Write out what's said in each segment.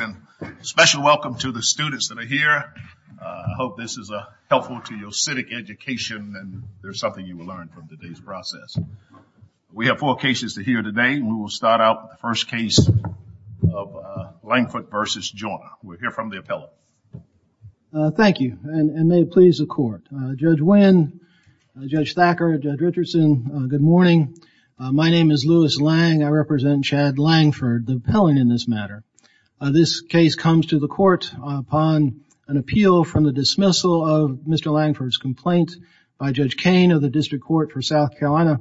and special welcome to the students that are here. I hope this is a helpful to your civic education and there's something you will learn from today's process. We have four cases to hear today. We will start out the first case of Langford versus Joyner. We'll hear from the appellate. Thank you and may it please the court. Judge Wynn, Judge Thacker, Judge Richardson, good morning. My name is Judge Wynn. This case comes to the court upon an appeal from the dismissal of Mr. Langford's complaint by Judge Kane of the District Court for South Carolina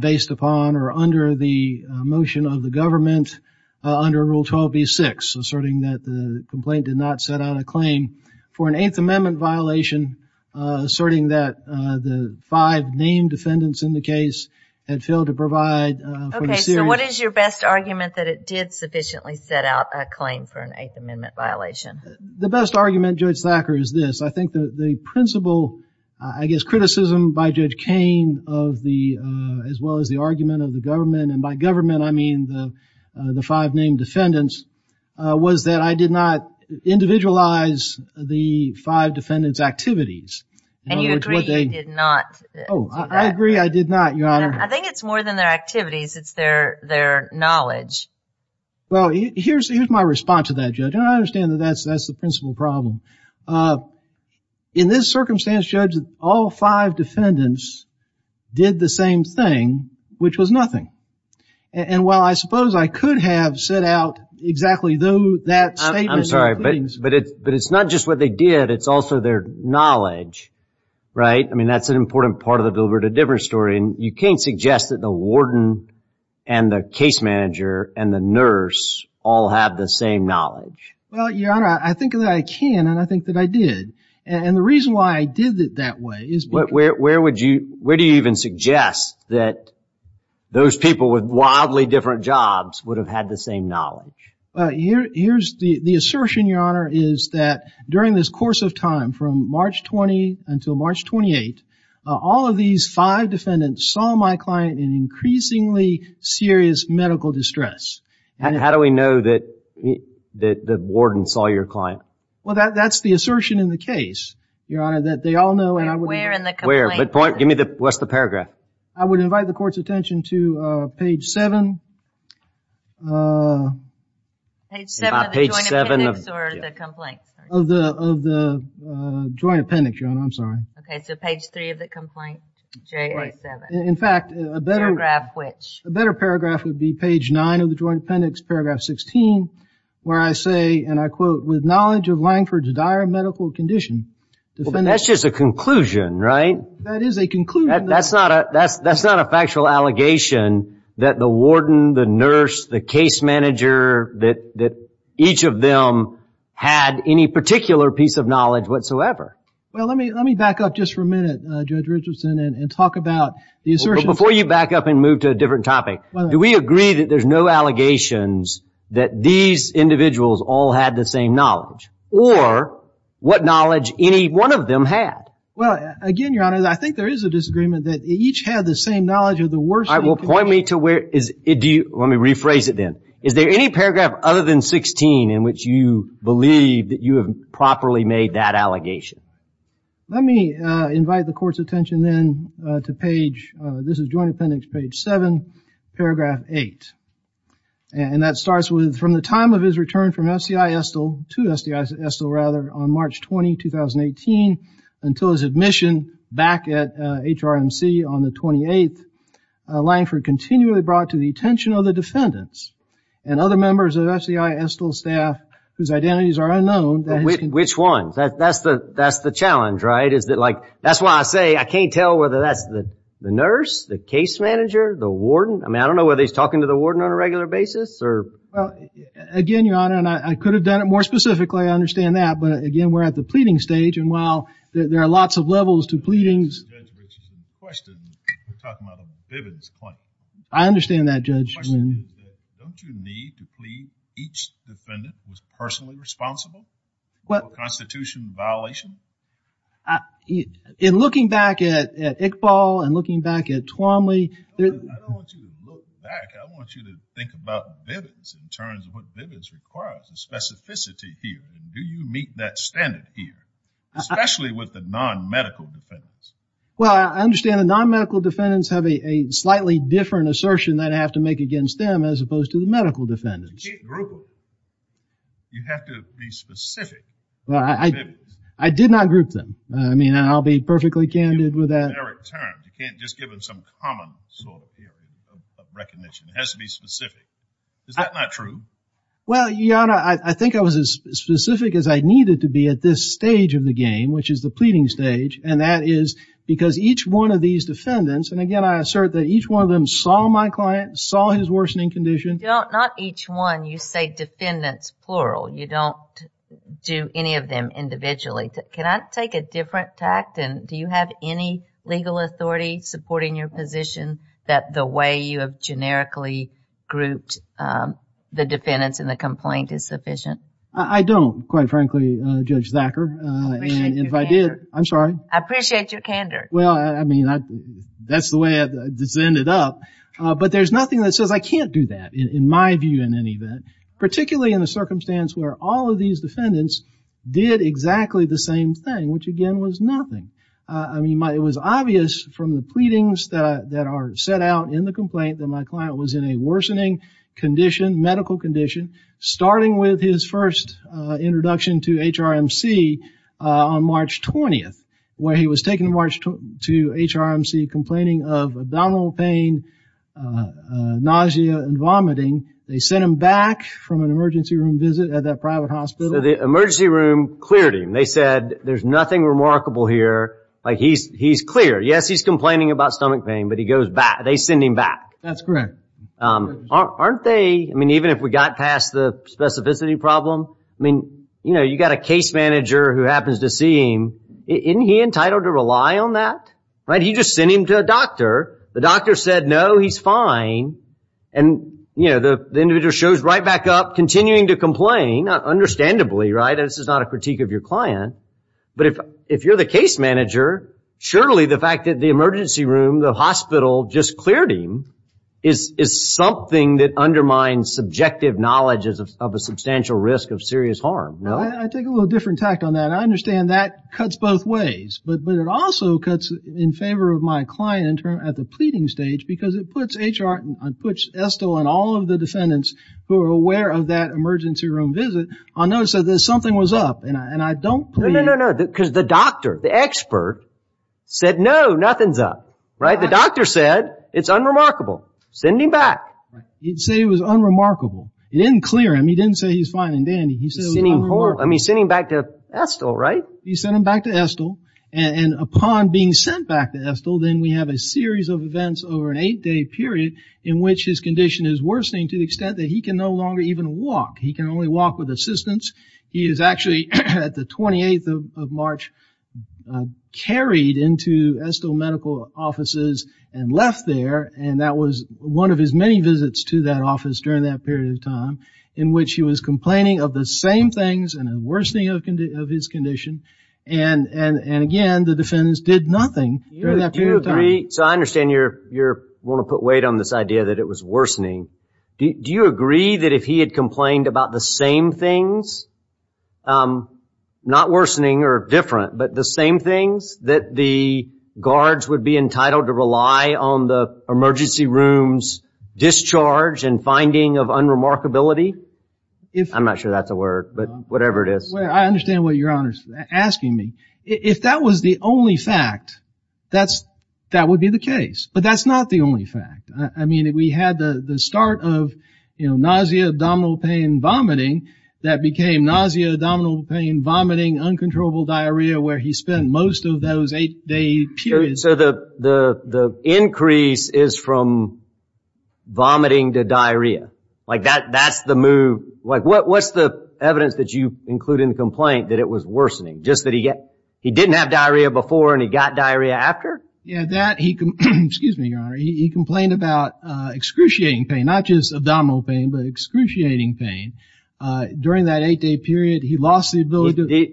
based upon or under the motion of the government under Rule 12b-6 asserting that the complaint did not set out a claim for an Eighth Amendment violation asserting that the five named defendants in the case had failed to provide. Okay, so what is your best argument that it did sufficiently set out a claim for an Eighth Amendment violation? The best argument, Judge Thacker, is this. I think that the principle, I guess criticism by Judge Kane of the as well as the argument of the government and by government I mean the the five named defendants was that I did not individualize the five defendants activities. And you agree you did not? Oh, I agree I did not, Your Honor. I think it's more than their activities, it's their knowledge. Well, here's my response to that, Judge. I understand that that's the principal problem. In this circumstance, Judge, all five defendants did the same thing, which was nothing. And while I suppose I could have set out exactly that statement. I'm sorry, but it's not just what they did, it's also their knowledge, right? I mean that's an argument that suggests that the warden and the case manager and the nurse all have the same knowledge. Well, Your Honor, I think that I can and I think that I did. And the reason why I did it that way is... Where would you, where do you even suggest that those people with wildly different jobs would have had the same knowledge? Well, here's the the assertion, Your Honor, is that during this course of time from March 20 until March 28, all of these five defendants saw my client in increasingly serious medical distress. And how do we know that the warden saw your client? Well, that's the assertion in the case, Your Honor, that they all know and I would... Where in the complaint? What's the paragraph? I would invite the Okay, so page 3 of the complaint, JA 7. In fact, a better paragraph would be page 9 of the Joint Appendix, paragraph 16, where I say, and I quote, with knowledge of Langford's dire medical condition... That's just a conclusion, right? That is a conclusion. That's not a factual allegation that the warden, the nurse, the case manager, that each of them had any particular piece of knowledge whatsoever. Well, let me back up just for a minute, Judge Richardson, and talk about the assertion. Before you back up and move to a different topic, do we agree that there's no allegations that these individuals all had the same knowledge or what knowledge any one of them had? Well, again, Your Honor, I think there is a disagreement that each had the same knowledge of the worst... All right, well, point me to where is... Let me rephrase it then. Is there any paragraph other than 16 in which you believe that you have properly made that allegation? Let me invite the court's attention then to page... This is Joint Appendix, page 7, paragraph 8. And that starts with, from the time of his return from SDI Estill, to SDI Estill, rather, on March 20, 2018, until his admission back at HRMC on the 28th, Langford continually brought to the attention of the defendants and other members of SDI Estill's staff, whose identities are unknown... Which ones? That's the that's the challenge, right? Is that like, that's why I say I can't tell whether that's the nurse, the case manager, the warden? I mean, I don't know whether he's talking to the warden on a regular basis or... Well, again, Your Honor, and I could have done it more specifically, I understand that, but again, we're at the defendant was personally responsible? What constitution violation? In looking back at Iqbal and looking back at Twombly... I don't want you to look back, I want you to think about Bivins in terms of what Bivins requires, the specificity here. Do you meet that standard here? Especially with the non-medical defendants. Well, I understand the non-medical defendants have a slightly different assertion that I have to make against them as opposed to the medical defendants. You can't group them. You have to be specific. I did not group them. I mean, I'll be perfectly candid with that. You can't just give them some common sort of recognition. It has to be specific. Is that not true? Well, Your Honor, I think I was as specific as I needed to be at this stage of the game, which is the pleading stage, and that is because each one of these Not each one. You say defendants, plural. You don't do any of them individually. Can I take a different tact? Do you have any legal authority supporting your position that the way you have generically grouped the defendants in the complaint is sufficient? I don't, quite frankly, Judge Thacker. I'm sorry. I appreciate your candor. Well, I mean, that's the way I've ended up, but there's nothing that says I can't do that in my view in any event, particularly in a circumstance where all of these defendants did exactly the same thing, which again was nothing. I mean, it was obvious from the pleadings that are set out in the complaint that my client was in a worsening condition, medical condition, starting with his first introduction to HRMC on March 20th, where he was taken to HRMC complaining of abdominal pain, nausea, and vomiting. They sent him back from an emergency room visit at that private hospital. The emergency room cleared him. They said there's nothing remarkable here. He's clear. Yes, he's complaining about stomach pain, but he goes back. They send him back. That's correct. Aren't they, I mean, even if we got past the specificity problem, I mean, you know, you got a case manager who happens to see him. Isn't he allowed to rely on that? He just sent him to a doctor. The doctor said, no, he's fine. And, you know, the individual shows right back up, continuing to complain, understandably, right? This is not a critique of your client. But if you're the case manager, surely the fact that the emergency room, the hospital just cleared him is something that undermines subjective knowledge of a substantial risk of serious harm, no? I take a little different tack on that. I understand that cuts both ways, but it also cuts in favor of my client at the pleading stage, because it puts Estill and all of the defendants who are aware of that emergency room visit on notice that something was up. No, no, no, because the doctor, the expert said, no, nothing's up, right? The doctor said it's unremarkable. Send him back. He'd say it was unremarkable. He didn't clear him. He didn't say he's fine and dandy. He said it was unremarkable. I mean, send him back to Estill, and upon being sent back to Estill, then we have a series of events over an eight-day period in which his condition is worsening to the extent that he can no longer even walk. He can only walk with assistance. He is actually, at the 28th of March, carried into Estill medical offices and left there, and that was one of his many visits to that office during that period of time, in which he was complaining of the same things and a worsening of his condition, and again, the defendants did nothing during that period of time. So I understand you want to put weight on this idea that it was worsening. Do you agree that if he had complained about the same things, not worsening or different, but the same things, that the guards would be entitled to rely on the emergency rooms discharge and finding of unremarkability? I'm not sure that's a question you're asking me. If that was the only fact, that would be the case, but that's not the only fact. I mean, we had the start of nausea, abdominal pain, vomiting, that became nausea, abdominal pain, vomiting, uncontrollable diarrhea, where he spent most of those eight-day periods. So the increase is from vomiting to diarrhea? Like, that's the move? What's the complaint that it was worsening? Just that he didn't have diarrhea before and he got diarrhea after? Yeah, that he complained about excruciating pain, not just abdominal pain, but excruciating pain. During that eight-day period, he lost the ability...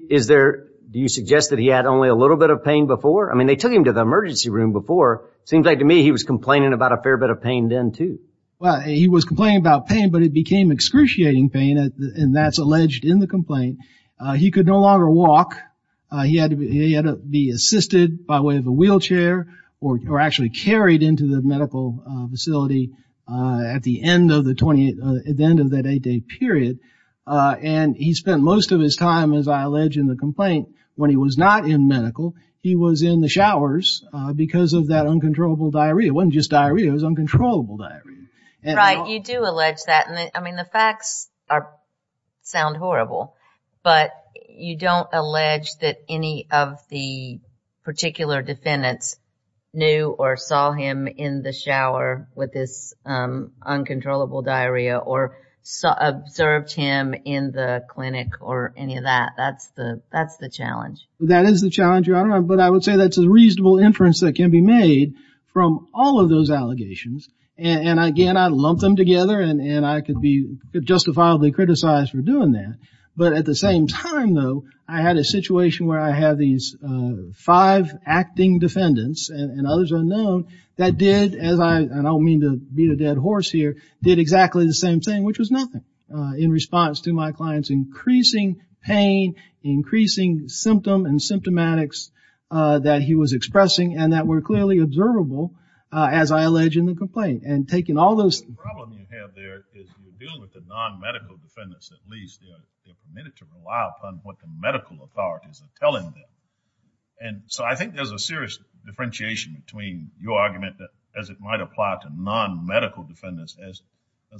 Do you suggest that he had only a little bit of pain before? I mean, they took him to the emergency room before. Seems like to me he was complaining about a fair bit of pain then, too. Well, he was complaining about pain, but it became excruciating pain, and that's alleged in the complaint. He could no longer walk. He had to be assisted by way of a wheelchair or actually carried into the medical facility at the end of that eight-day period, and he spent most of his time, as I allege in the complaint, when he was not in medical, he was in the showers because of that uncontrollable diarrhea. It wasn't just diarrhea, it was uncontrollable diarrhea. Right, you do facts sound horrible, but you don't allege that any of the particular defendants knew or saw him in the shower with this uncontrollable diarrhea or observed him in the clinic or any of that. That's the challenge. That is the challenge, Your Honor, but I would say that's a reasonable inference that can be made from all of those allegations, and again, I'd lump them together and I could be justifiably criticized for doing that, but at the same time, though, I had a situation where I had these five acting defendants and others unknown that did, and I don't mean to beat a dead horse here, did exactly the same thing, which was nothing in response to my client's increasing pain, increasing symptom and symptomatics that he was expressing and that were clearly observable, as I allege in the complaint, and taking all those... The problem you have there is you're dealing with the non-medical defendants, at least. They're permitted to rely upon what the medical authorities are telling them, and so I think there's a serious differentiation between your argument as it might apply to non-medical defendants as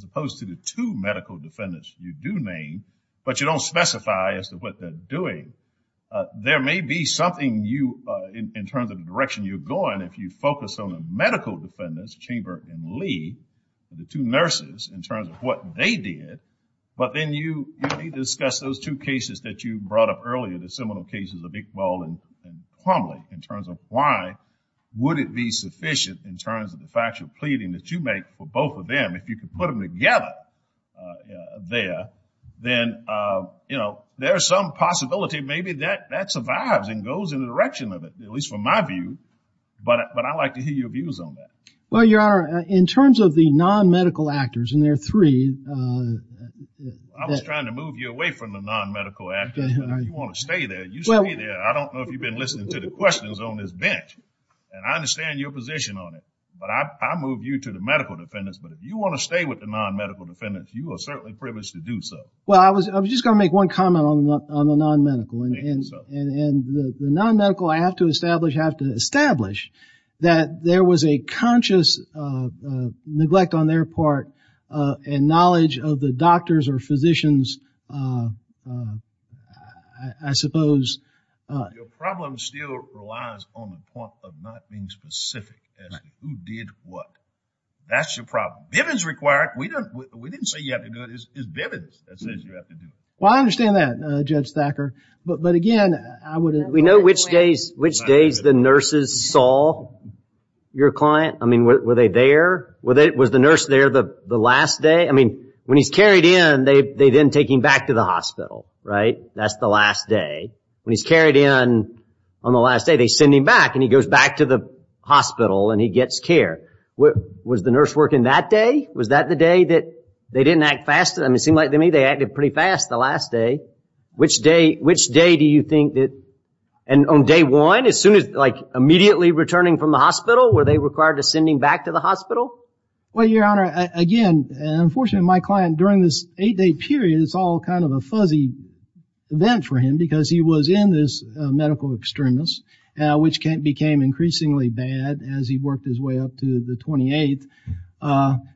opposed to the two medical defendants you do name, but you don't specify as to what they're doing. There may be something you, in terms of the direction you're going, if you focus on the medical defendants, Chamber and Lee, the two nurses, in terms of what they did, but then you discuss those two cases that you brought up earlier, the seminal cases of Iqbal and Quamley, in terms of why would it be sufficient in terms of the factual pleading that you make for both of them, if you could put them together there, then there's some possibility maybe that survives and goes in the direction of it, at least from my view, but I'd like to hear your views on that. Well, Your Honor, in terms of the non-medical actors, and there are three... I was trying to move you away from the non-medical actors, but if you want to stay there, you stay there. I don't know if you've been listening to the questions on this bench, and I understand your position on it, but I move you to the medical defendants, but if you want to stay with the non-medical defendants, you are certainly privileged to do so. Well, I was just going to make one comment on the non-medical, and the non-medical I have to establish, have to establish, that there was a conscious neglect on their part, and knowledge of the doctors or physicians, I suppose... Your problem still relies on the point of not being specific as to who did what. That's your problem. Bivens required. We didn't say you have to do it. It's Bivens that says you have to do it. Well, I understand that, Judge Thacker, but again, I wouldn't... We know which days the nurses saw your client. I mean, were they there? Was the nurse there the last day? I mean, when he's carried in, they then take him back to the hospital, right? That's the last day. When he's carried in on the last day, they send him back, and he goes back to the hospital, and he gets care. Was the nurse working that day? Was that the day that they didn't act fast? I mean, it seemed like to me they acted pretty fast the last day. Which day do you think that... And on day one, as soon as... like, immediately returning from the hospital, were they required to send him back to the hospital? Well, Your Honor, again, unfortunately, my client, during this eight-day period, it's all kind of a fuzzy vent for him because he was in this medical extremis, which became increasingly bad as he worked his way up to the 28th.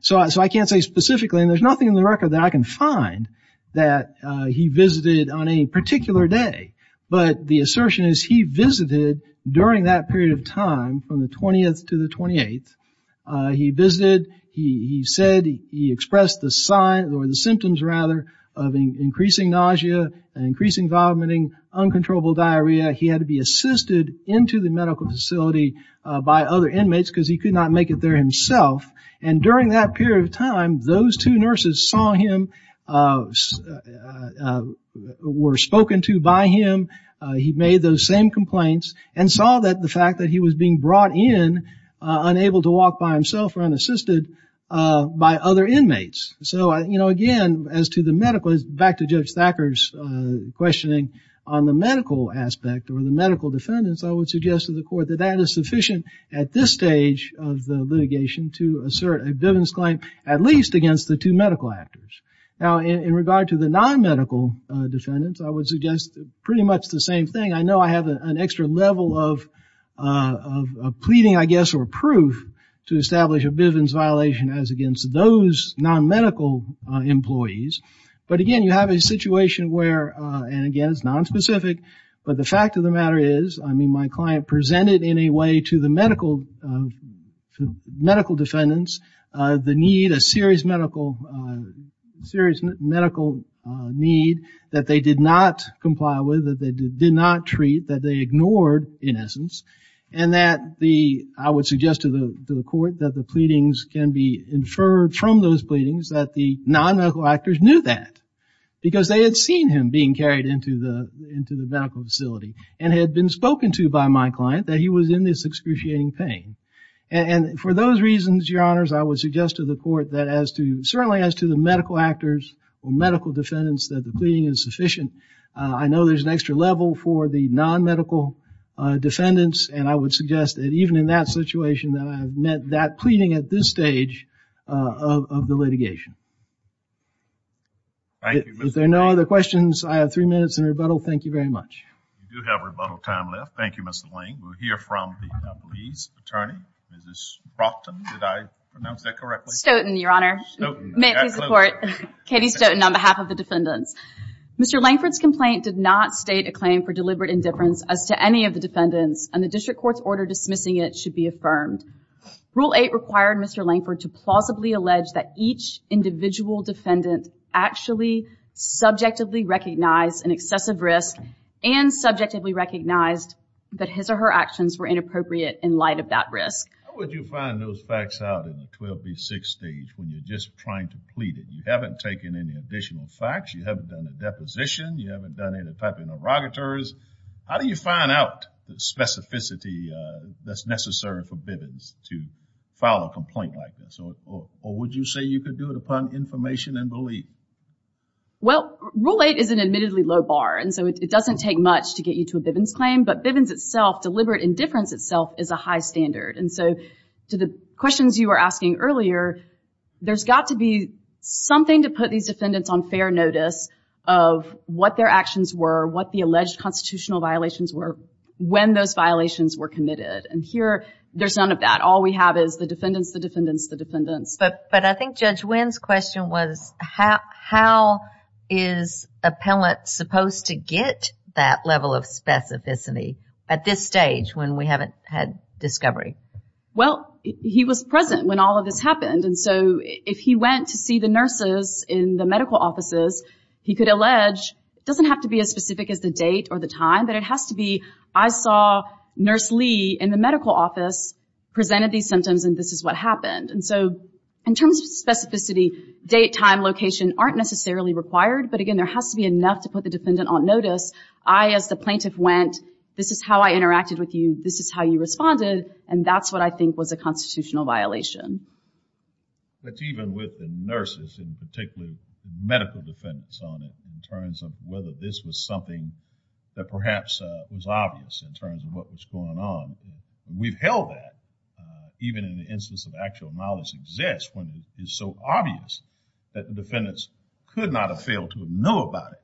So, I can't say specifically, and there's nothing in the record that I can find, that he visited on any particular day. But, the assertion is he visited during that period of time, from the 20th to the 28th. He visited. He said he expressed the signs, or the symptoms, rather, of increasing nausea, increasing vomiting, uncontrollable diarrhea. He had to be assisted into the medical facility by other inmates because he could not make it there himself. And during that period of time, those two nurses saw him... were spoken to by him. He made those same complaints and saw that the fact that he was being brought in, unable to walk by himself or unassisted, by other inmates. So, you know, again, as to the medical... back to Judge Thacker's questioning on the medical aspect or the medical defendants, I would suggest to the court that that is sufficient at this stage of the litigation to assert a Bivens claim, at least against the two medical actors. Now, in regard to the non-medical defendants, I would suggest pretty much the same thing. I know I have an extra level of pleading, I guess, or proof to establish a Bivens violation as against those non-medical employees. But again, you have a situation where, and again, it's nonspecific, but the fact of the matter is, I mean, my client presented in a way to the medical defendants the need, a serious medical need that they did not comply with, that they did not treat, that they ignored, in essence. And that the... I would suggest to the court that the pleadings can be inferred from those pleadings that the non-medical actors knew that. Because they had seen him being carried into the medical facility and had been spoken to by my client that he was in this excruciating pain. And for those reasons, Your Honors, I would suggest to the court that as to... certainly as to the medical actors or medical defendants, that the pleading is sufficient. I know there's an extra level for the non-medical defendants, and I would suggest that even in that situation, that I have met that pleading at this stage of the litigation. Thank you, Mr. Lane. If there are no other questions, I have three minutes in rebuttal. Thank you very much. We do have rebuttal time left. Thank you, Mr. Lane. We'll hear from the police attorney, Mrs. Broughton. Did I pronounce that correctly? Stoughton, Your Honor. Stoughton. Absolutely. May I please support Katie Stoughton on behalf of the defendants? Mr. Lankford's complaint did not state a claim for deliberate indifference as to any of the defendants, and the district court's order dismissing it should be affirmed. Rule 8 required Mr. Lankford to plausibly allege that each individual defendant actually subjectively recognized an excessive risk and subjectively recognized that his or her actions were inappropriate in light of that risk. How would you find those facts out in the 12B6 stage when you're just trying to plead? You haven't taken any additional facts. You haven't done a deposition. You haven't done any type of interrogators. How do you find out the specificity that's necessary for Bivens to file a complaint like this, or would you say you could do it upon information and belief? Well, Rule 8 is an admittedly low bar, and so it doesn't take much to get you to a Bivens claim, but Bivens itself, deliberate indifference itself, is a high standard. And so to the questions you were asking earlier, there's got to be something to put these defendants on fair notice of what their actions were, what the alleged constitutional violations were, when those violations were committed. And here, there's none of that. All we have is the defendants, the defendants, the defendants. But I think Judge Winn's question was, how is appellant supposed to get that level of specificity at this stage when we haven't had discovery? Well, he was present when all of this happened, and so if he went to see the nurses in the medical offices, he could allege, it doesn't have to be as specific as the date or the time, but it has to be, I saw Nurse Lee in the medical office presented these symptoms, and this is what happened. And so in terms of specificity, date, time, location aren't necessarily required, but again, there has to be enough to put the defendant on notice. I, as the plaintiff, went, this is how I interacted with you, this is how you responded, and that's what I think was a constitutional violation. But even with the nurses, and particularly medical defendants on it, in terms of whether this was something that perhaps was obvious in terms of what was going on, we've held that, even in the instance of actual knowledge exists, when it is so obvious that the defendants could not have failed to know about it.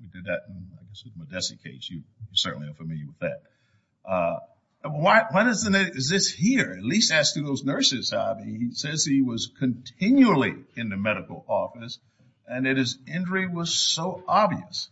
We did that in the Modessi case, you certainly are familiar with that. Why doesn't it exist here? At least ask those nurses, I mean, he says he was continually in the medical office, and that his injury was so obvious.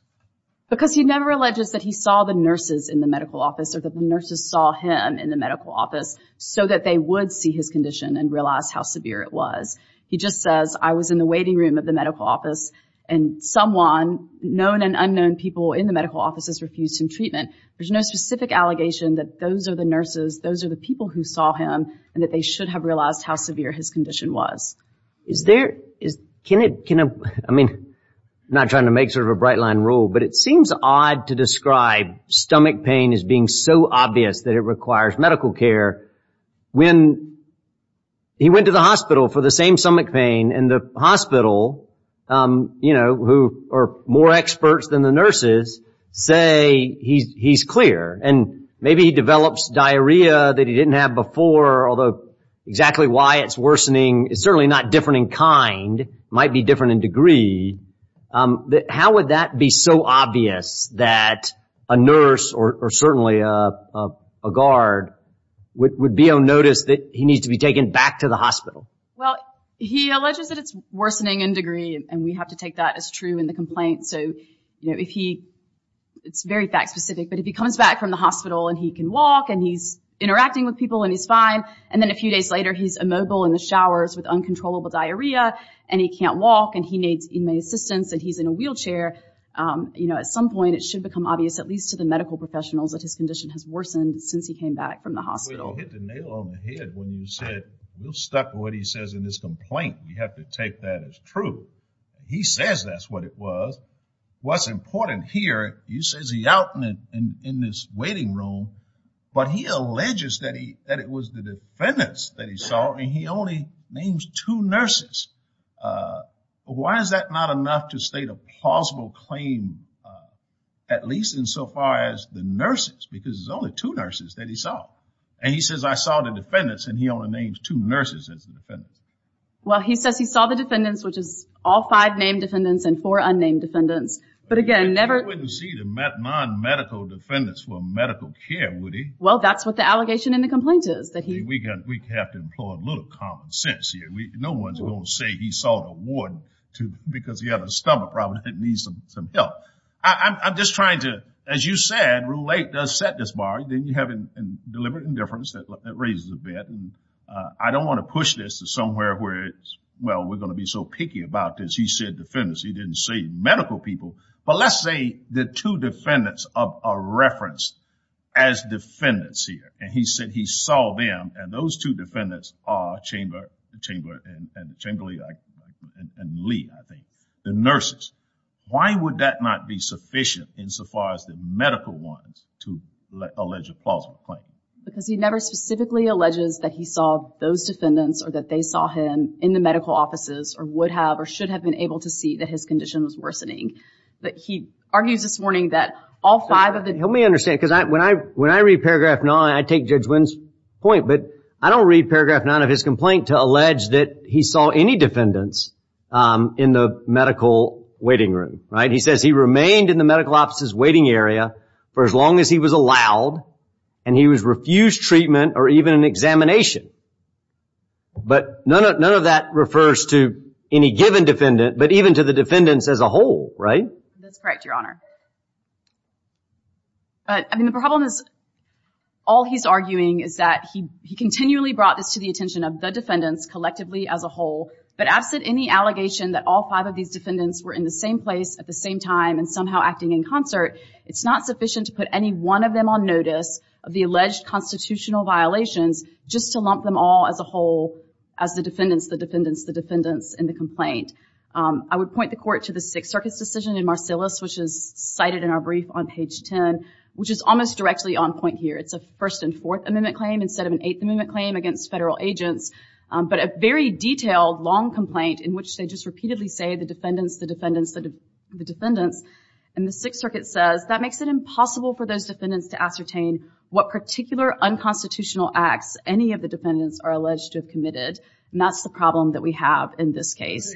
Because he never alleges that he saw the nurses in the medical office, or that the nurses saw him in the medical office, so that they would see his condition and realize how severe it was. He just says, I was in the waiting room of the medical office, and someone, known and unknown people in the medical offices refused him treatment. There's no specific allegation that those are the nurses, those are the people who saw him, and that they should have realized how severe his condition was. Is there, can it, I mean, not trying to make sort of a bright line rule, but it seems odd to describe stomach pain as being so obvious that it requires medical care. When he went to the hospital for the same stomach pain, and the hospital, you know, who are more experts than the nurses, say he's clear, and maybe he develops diarrhea that he didn't have before, although exactly why it's worsening is certainly not different in kind, might be different in degree. How would that be so obvious that a nurse, or certainly a guard, would be on notice that he needs to be taken back to the hospital? Well, he alleges that it's worsening in degree, and we have to take that as true in the complaint. So, you know, if he, it's very fact specific, but if he comes back from the hospital and he can walk and he's interacting with people and he's fine, and then a few days later he's immobile in the showers with uncontrollable diarrhea and he can't walk and he needs inmate assistance and he's in a wheelchair, you know, at some point it should become obvious, at least to the medical professionals, that his condition has worsened since he came back from the hospital. Well, you hit the nail on the head when you said, we're stuck with what he says in this complaint. We have to take that as true. He says that's what it was. What's important here, you say he's out in this waiting room, but he alleges that it was the defendants that he saw, and he only names two nurses. Why is that not enough to state a plausible claim, at least insofar as the nurses, because there's only two nurses that he saw? And he says, I saw the defendants, and he only names two nurses as the defendants. Well, he says he saw the defendants, which is all five named defendants and four unnamed defendants. But, again, never. He wouldn't see the non-medical defendants for medical care, would he? Well, that's what the allegation in the complaint is. We have to employ a little common sense here. No one's going to say he saw the ward because he had a stomach problem and needed some help. I'm just trying to, as you said, set this bar. Then you have deliberate indifference that raises a bet. I don't want to push this to somewhere where, well, we're going to be so picky about this. He said defendants. He didn't say medical people. But let's say the two defendants are referenced as defendants here, and he said he saw them, and those two defendants are Chamberlain and Lee, I think, the nurses. Why would that not be sufficient, insofar as the medical ones, to allege a plausible claim? Because he never specifically alleges that he saw those defendants or that they saw him in the medical offices or would have or should have been able to see that his condition was worsening. But he argues this morning that all five of the- Help me understand, because when I read paragraph nine, I take Judge Wynn's point, but I don't read paragraph nine of his complaint to allege that he saw any defendants in the medical waiting room. He says he remained in the medical offices waiting area for as long as he was allowed, and he was refused treatment or even an examination. But none of that refers to any given defendant, but even to the defendants as a whole, right? That's correct, Your Honor. But, I mean, the problem is all he's arguing is that he continually brought this to the attention of the defendants collectively as a whole, but absent any allegation that all five of these defendants were in the same place at the same time and somehow acting in concert, it's not sufficient to put any one of them on notice of the alleged constitutional violations just to lump them all as a whole as the defendants, the defendants, the defendants in the complaint. I would point the Court to the Sixth Circuit's decision in Marcellus, which is cited in our brief on page 10, which is almost directly on point here. It's a First and Fourth Amendment claim instead of an Eighth Amendment claim against federal agents, but a very detailed, long complaint in which they just repeatedly say the defendants, the defendants, the defendants. And the Sixth Circuit says that makes it impossible for those defendants to ascertain what particular unconstitutional acts any of the defendants are alleged to have committed, and that's the problem that we have in this case.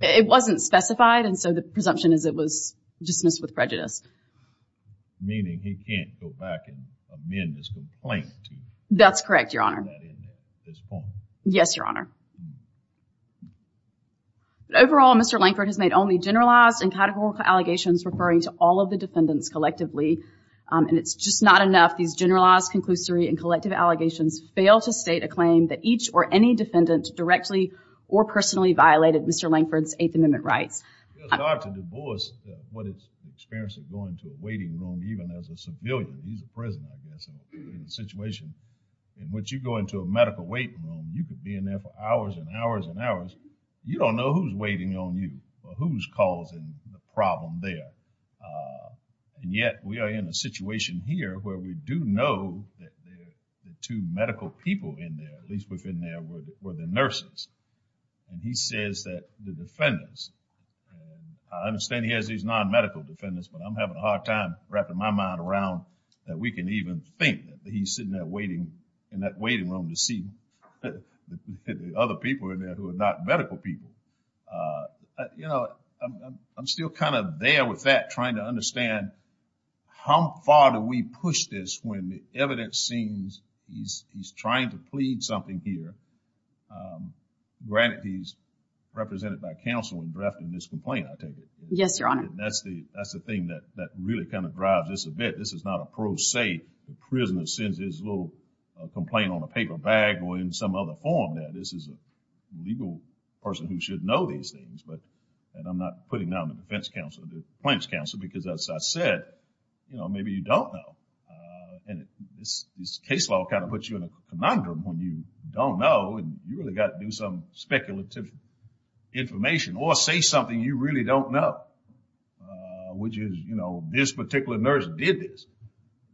It wasn't specified, and so the presumption is it was dismissed with prejudice. Yes, Your Honor. Overall, Mr. Lankford has made only generalized and categorical allegations referring to all of the defendants collectively, and it's just not enough. These generalized, conclusory, and collective allegations fail to state a claim that each or any defendant directly or personally violated Mr. Lankford's Eighth Amendment rights. It's hard to divorce what is the experience of going to a waiting room even as a civilian. He's a prisoner, I guess, in a situation in which you go into a medical waiting room, and you could be in there for hours and hours and hours. You don't know who's waiting on you or who's causing the problem there. And yet, we are in a situation here where we do know that the two medical people in there, at least within there, were the nurses. And he says that the defendants, and I understand he has these non-medical defendants, but I'm having a hard time wrapping my mind around that we can even think that he's sitting there waiting in that waiting room to see the other people in there who are not medical people. You know, I'm still kind of there with that, trying to understand how far do we push this when the evidence seems he's trying to plead something here. Granted, he's represented by counsel in drafting this complaint, I take it. Yes, Your Honor. That's the thing that really kind of drives this event. This is not a pro se. The prisoner sends his little complaint on a paper bag or in some other form there. This is a legal person who should know these things, and I'm not putting that on the defense counsel, the plaintiff's counsel, because as I said, you know, maybe you don't know. And this case law kind of puts you in a conundrum when you don't know and you really got to do some speculative information or say something you really don't know, which is, you know, this particular nurse did this.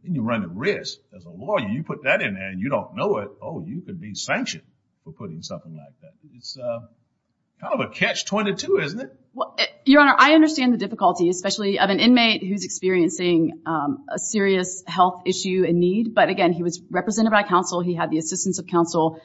You run at risk as a lawyer. You put that in there and you don't know it. Oh, you could be sanctioned for putting something like that. It's kind of a catch-22, isn't it? Your Honor, I understand the difficulty, especially of an inmate who's experiencing a serious health issue and need. But again, he was represented by counsel. He had the assistance of counsel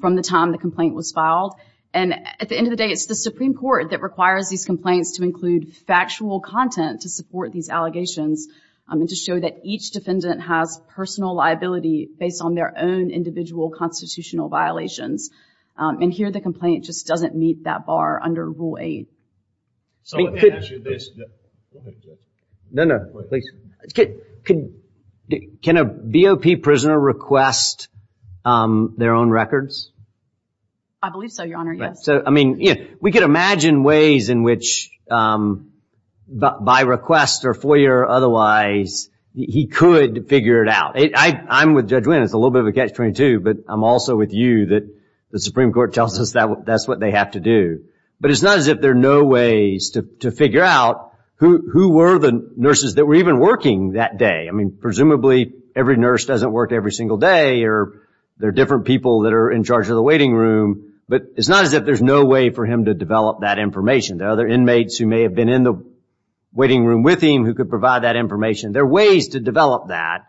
from the time the complaint was filed. And at the end of the day, it's the Supreme Court that requires these complaints to include factual content to support these allegations and to show that each defendant has personal liability based on their own individual constitutional violations. And here the complaint just doesn't meet that bar under Rule 8. Someone can answer this. No, no, please. Can a BOP prisoner request their own records? I believe so, Your Honor, yes. We could imagine ways in which, by request or FOIA or otherwise, he could figure it out. I'm with Judge Wynn. It's a little bit of a catch-22. But I'm also with you that the Supreme Court tells us that's what they have to do. But it's not as if there are no ways to figure out who were the nurses that were even working that day. I mean, presumably every nurse doesn't work every single day or there are different people that are in charge of the waiting room. But it's not as if there's no way for him to develop that information. There are other inmates who may have been in the waiting room with him who could provide that information. There are ways to develop that.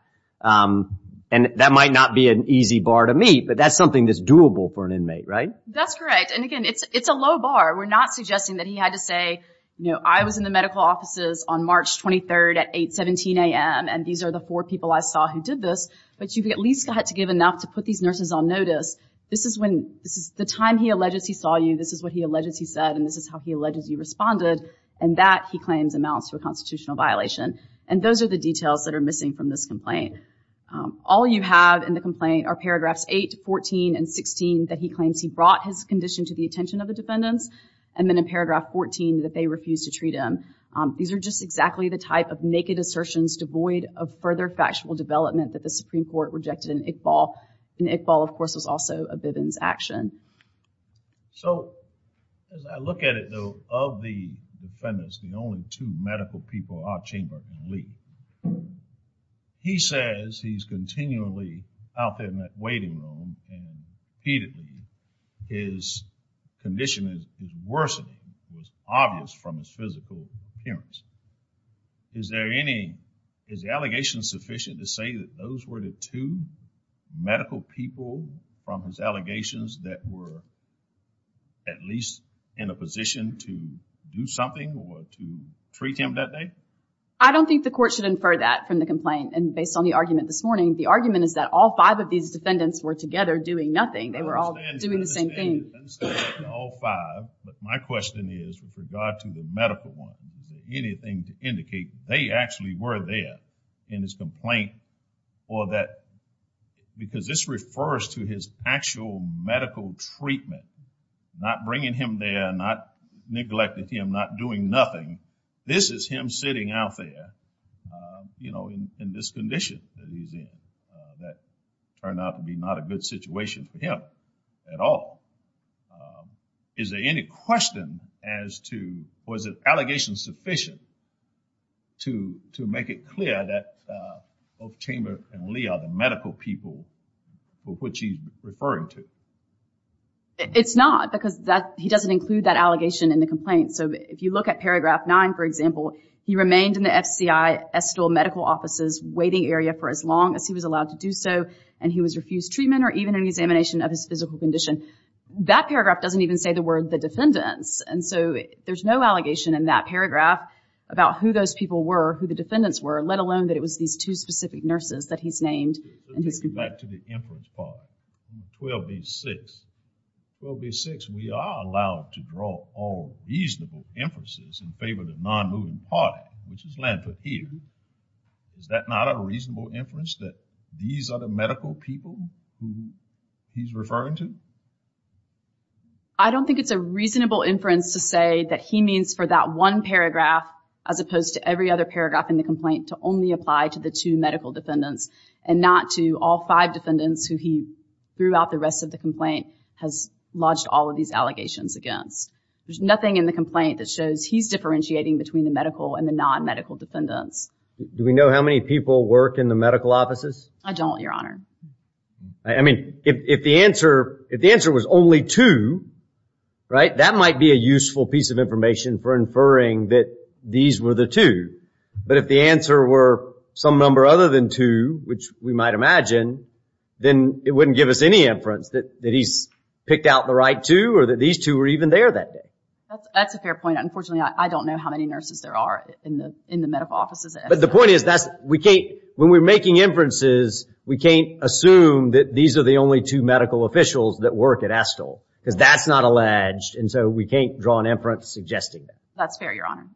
And that might not be an easy bar to meet, but that's something that's doable for an inmate, right? That's correct. And, again, it's a low bar. We're not suggesting that he had to say, you know, I was in the medical offices on March 23 at 8, 17 a.m., and these are the four people I saw who did this. But you at least had to give enough to put these nurses on notice. This is the time he alleges he saw you. This is what he alleges he said, and this is how he alleges you responded. And that, he claims, amounts to a constitutional violation. And those are the details that are missing from this complaint. All you have in the complaint are paragraphs 8, 14, and 16 that he claims he brought his condition to the attention of the defendants, and then in paragraph 14 that they refused to treat him. These are just exactly the type of naked assertions devoid of further factual development that the Supreme Court rejected in Iqbal. And Iqbal, of course, was also a Bivens action. So, as I look at it, though, of the defendants, the only two medical people in our chamber who leave, he says he's continually out there in that waiting room, and repeatedly his condition is worsening. It was obvious from his physical appearance. Is there any, is the allegation sufficient to say that those were the two medical people from his allegations that were at least in a position to do something or to treat him that day? I don't think the court should infer that from the complaint. And based on the argument this morning, the argument is that all five of these defendants were together doing nothing. They were all doing the same thing. All five, but my question is, with regard to the medical ones, is there anything to indicate they actually were there in his complaint, or that, because this refers to his actual medical treatment, not bringing him there, not neglecting him, not doing nothing. This is him sitting out there, you know, in this condition that he's in, that turned out to be not a good situation for him at all. Is there any question as to, was the allegation sufficient to make it clear that both Chamber and Lee are the medical people for which he's referring to? It's not, because he doesn't include that allegation in the complaint. So if you look at paragraph nine, for example, he remained in the FCI Estill Medical Office's waiting area for as long as he was allowed to do so, and he was refused treatment or even an examination of his physical condition. That paragraph doesn't even say the word the defendants. And so there's no allegation in that paragraph about who those people were, who the defendants were, let alone that it was these two specific nurses that he's named in his complaint. Let's go back to the inference part, 12B6. 12B6, we are allowed to draw all reasonable inferences in favor of the non-moving party, which is Landford here. Is that not a reasonable inference, that these are the medical people who he's referring to? I don't think it's a reasonable inference to say that he means for that one paragraph, as opposed to every other paragraph in the complaint, to only apply to the two medical defendants and not to all five defendants who he, throughout the rest of the complaint, has lodged all of these allegations against. There's nothing in the complaint that shows he's differentiating between the medical and the non-medical defendants. Do we know how many people work in the medical offices? I don't, Your Honor. I mean, if the answer was only two, right, that might be a useful piece of information for inferring that these were the two. But if the answer were some number other than two, which we might imagine, then it wouldn't give us any inference that he's picked out the right two or that these two were even there that day. That's a fair point. Unfortunately, I don't know how many nurses there are in the medical offices. But the point is, when we're making inferences, we can't assume that these are the only two medical officials that work at ASTOL, because that's not alleged. And so we can't draw an inference suggesting that. That's fair, Your Honor.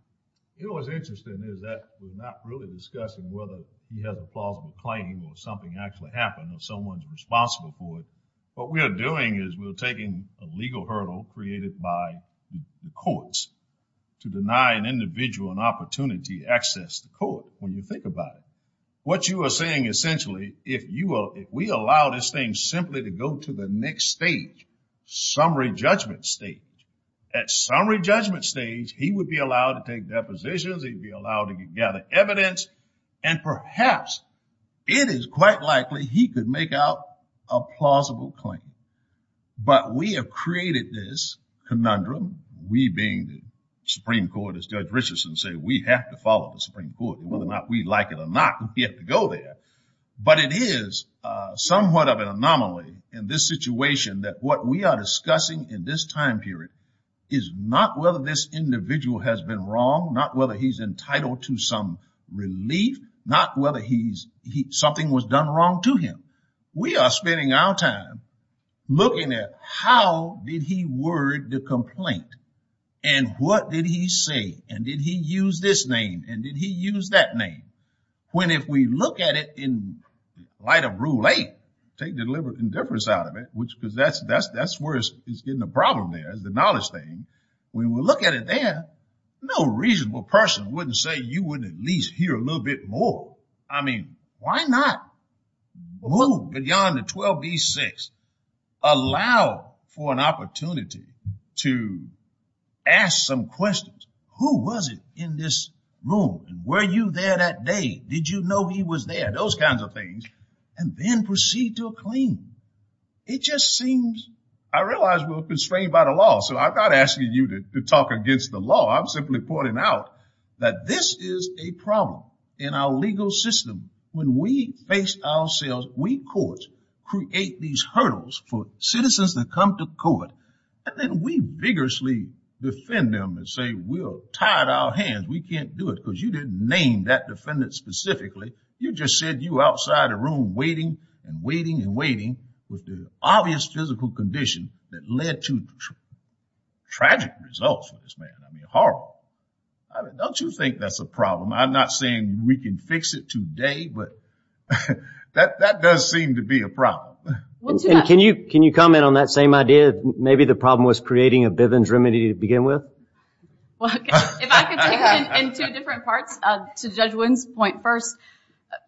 You know, what's interesting is that we're not really discussing whether he has a plausible claim or something actually happened or someone's responsible for it. What we are doing is we're taking a legal hurdle created by the courts to deny an individual an opportunity to access the court, when you think about it. What you are saying, essentially, if we allow this thing simply to go to the next stage, summary judgment stage, at summary judgment stage, he would be allowed to take depositions, he'd be allowed to gather evidence, and perhaps it is quite likely he could make out a plausible claim. But we have created this conundrum, we being the Supreme Court, as Judge Richardson said, we have to follow the Supreme Court. Whether or not we like it or not, we have to go there. But it is somewhat of an anomaly in this situation that what we are discussing in this time period is not whether this individual has been wrong, not whether he's entitled to some relief, not whether something was done wrong to him. We are spending our time looking at how did he word the complaint, and what did he say, and did he use this name, and did he use that name? When if we look at it in light of Rule 8, take deliberate indifference out of it, because that's where it's getting a problem there, the knowledge thing, when we look at it there, no reasonable person wouldn't say you wouldn't at least hear a little bit more. I mean, why not? Move beyond the 12b-6. Allow for an opportunity to ask some questions. Who was it in this room? And were you there that day? Did you know he was there? Those kinds of things. And then proceed to a claim. It just seems... I realize we're constrained by the law, so I'm not asking you to talk against the law. I'm simply pointing out that this is a problem in our legal system. When we face ourselves, we courts create these hurdles for citizens that come to court, and then we vigorously defend them and say we're tired of our hands, we can't do it, because you didn't name that defendant specifically. You just said you were outside the room waiting and waiting and waiting with the obvious physical condition that led to tragic results for this man. I mean, horrible. Don't you think that's a problem? I'm not saying we can fix it today, but that does seem to be a problem. Can you comment on that same idea? Maybe the problem was creating a Bivens remedy to begin with? If I could take it in two different parts. To Judge Wooden's point first,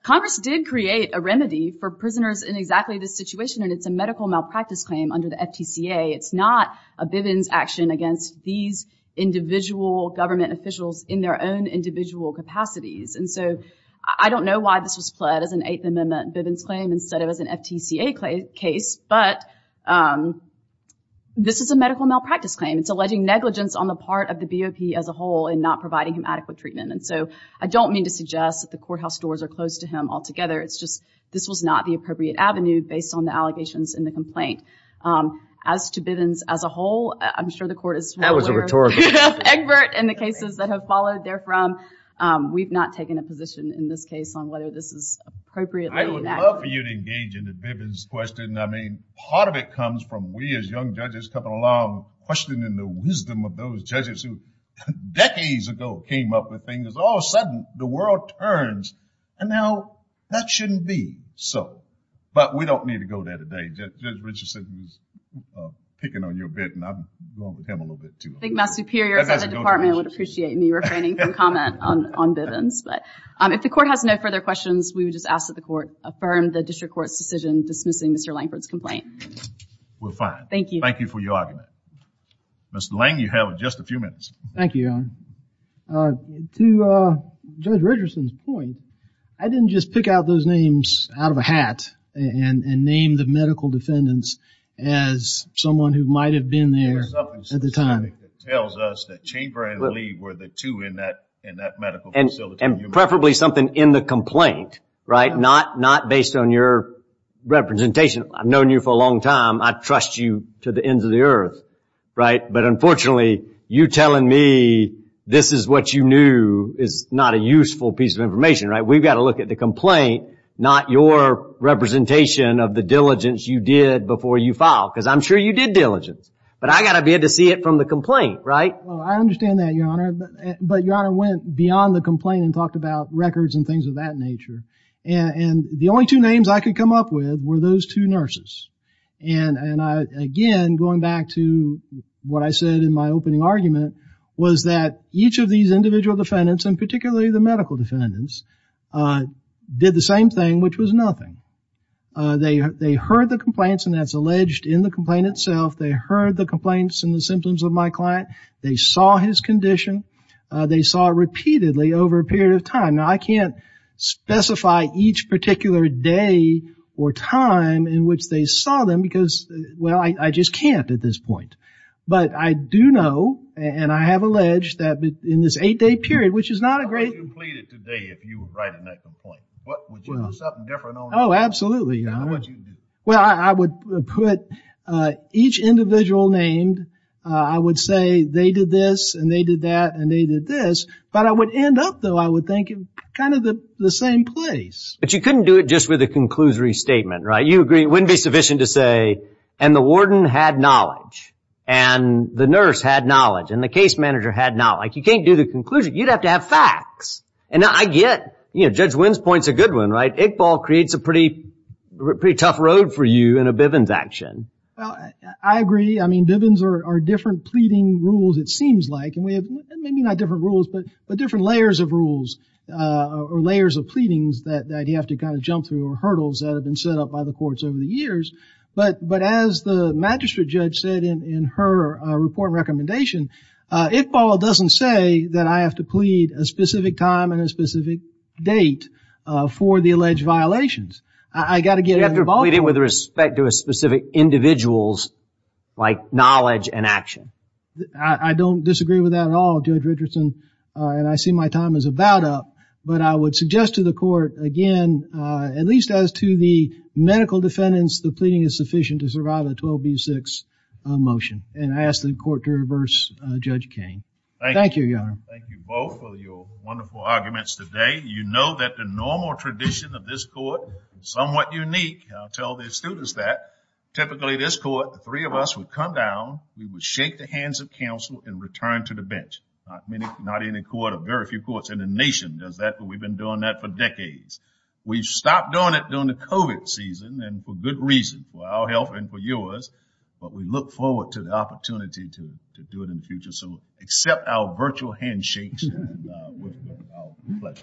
Congress did create a remedy for prisoners in exactly this situation, and it's a medical malpractice claim under the FTCA. It's not a Bivens action against these individual government officials in their own individual capacities. And so I don't know why this was fled as an Eighth Amendment Bivens claim instead of as an FTCA case, but this is a medical malpractice claim. It's alleging negligence on the part of the BOP as a whole in not providing him adequate treatment. And so I don't mean to suggest that the courthouse doors are closed to him altogether. It's just this was not the appropriate avenue based on the allegations in the complaint. As to Bivens as a whole, I'm sure the court is well aware... That was a rhetorical question. ...of Egbert and the cases that have followed therefrom. We've not taken a position in this case on whether this is appropriately enacted. I would love for you to engage in the Bivens question. I mean, part of it comes from we as young judges coming along questioning the wisdom of those judges who decades ago came up with things. All of a sudden, the world turns, and now that shouldn't be so. But we don't need to go there today. Judge Richardson is picking on your bit, and I'm going with him a little bit, too. I think my superiors at the department would appreciate me refraining from comment on Bivens. But if the court has no further questions, we would just ask that the court affirm the district court's decision dismissing Mr. Lankford's complaint. We're fine. Thank you. Thank you for your argument. Mr. Lank, you have just a few minutes. Thank you, Your Honor. To Judge Richardson's point, I didn't just pick out those names out of a hat and name the medical defendants as someone who might have been there at the time. It tells us that Chamber and Lee were the two in that medical facility. And preferably something in the complaint, right? Not based on your representation. I've known you for a long time. I trust you to the ends of the earth, right? But unfortunately, you telling me this is what you knew is not a useful piece of information, right? We've got to look at the complaint, not your representation of the diligence you did before you filed. Because I'm sure you did diligence. But I've got to be able to see it from the complaint, right? I understand that, Your Honor. But Your Honor went beyond the complaint and talked about records and things of that nature. And the only two names I could come up with were those two nurses. And again, going back to what I said in my opening argument, was that each of these individual defendants, and particularly the medical defendants, did the same thing, which was nothing. They heard the complaints, and that's alleged in the complaint itself. They heard the complaints and the symptoms of my client. They saw his condition. They saw it repeatedly over a period of time. Now, I can't specify each particular day or time in which they saw them, because, well, I just can't at this point. But I do know, and I have alleged, that in this eight-day period, which is not a great... How would you plead it today if you were writing that complaint? Would you do something different? Oh, absolutely, Your Honor. How would you do it? Well, I would put each individual named. I would say they did this, and they did that, and they did this. But I would end up, though, I would think, kind of the same place. But you couldn't do it just with a conclusory statement, right? You agree it wouldn't be sufficient to say, and the warden had knowledge, and the nurse had knowledge, and the case manager had knowledge. You can't do the conclusion. You'd have to have facts. And I get Judge Wynn's point's a good one, right? Iqbal creates a pretty tough road for you in a Bivens action. I agree. I mean, Bivens are different pleading rules, it seems like. Maybe not different rules, but different layers of rules, or layers of pleadings that you have to kind of jump through, or hurdles that have been set up by the courts over the years. But as the magistrate judge said in her report and recommendation, Iqbal doesn't say that I have to plead a specific time and a specific date for the alleged violations. I've got to get involved. You have to plead with respect to a specific individual's, like, knowledge and action. I don't disagree with that at all, Judge Richardson. And I see my time is about up. But I would suggest to the court, again, at least as to the medical defendants, the pleading is sufficient to survive a 12B6 motion. And I ask the court to reverse Judge King. Thank you, Your Honor. Thank you both for your wonderful arguments today. You know that the normal tradition of this court is somewhat unique. I'll tell the students that. Typically, this court, the three of us would come down, we would shake the hands of counsel and return to the bench. Not many, not any court, or very few courts in the nation does that, but we've been doing that for decades. We've stopped doing it during the COVID season, and for good reason, for our health and for yours. But we look forward to the opportunity to do it in the future. So accept our virtual handshakes and with our pleasure.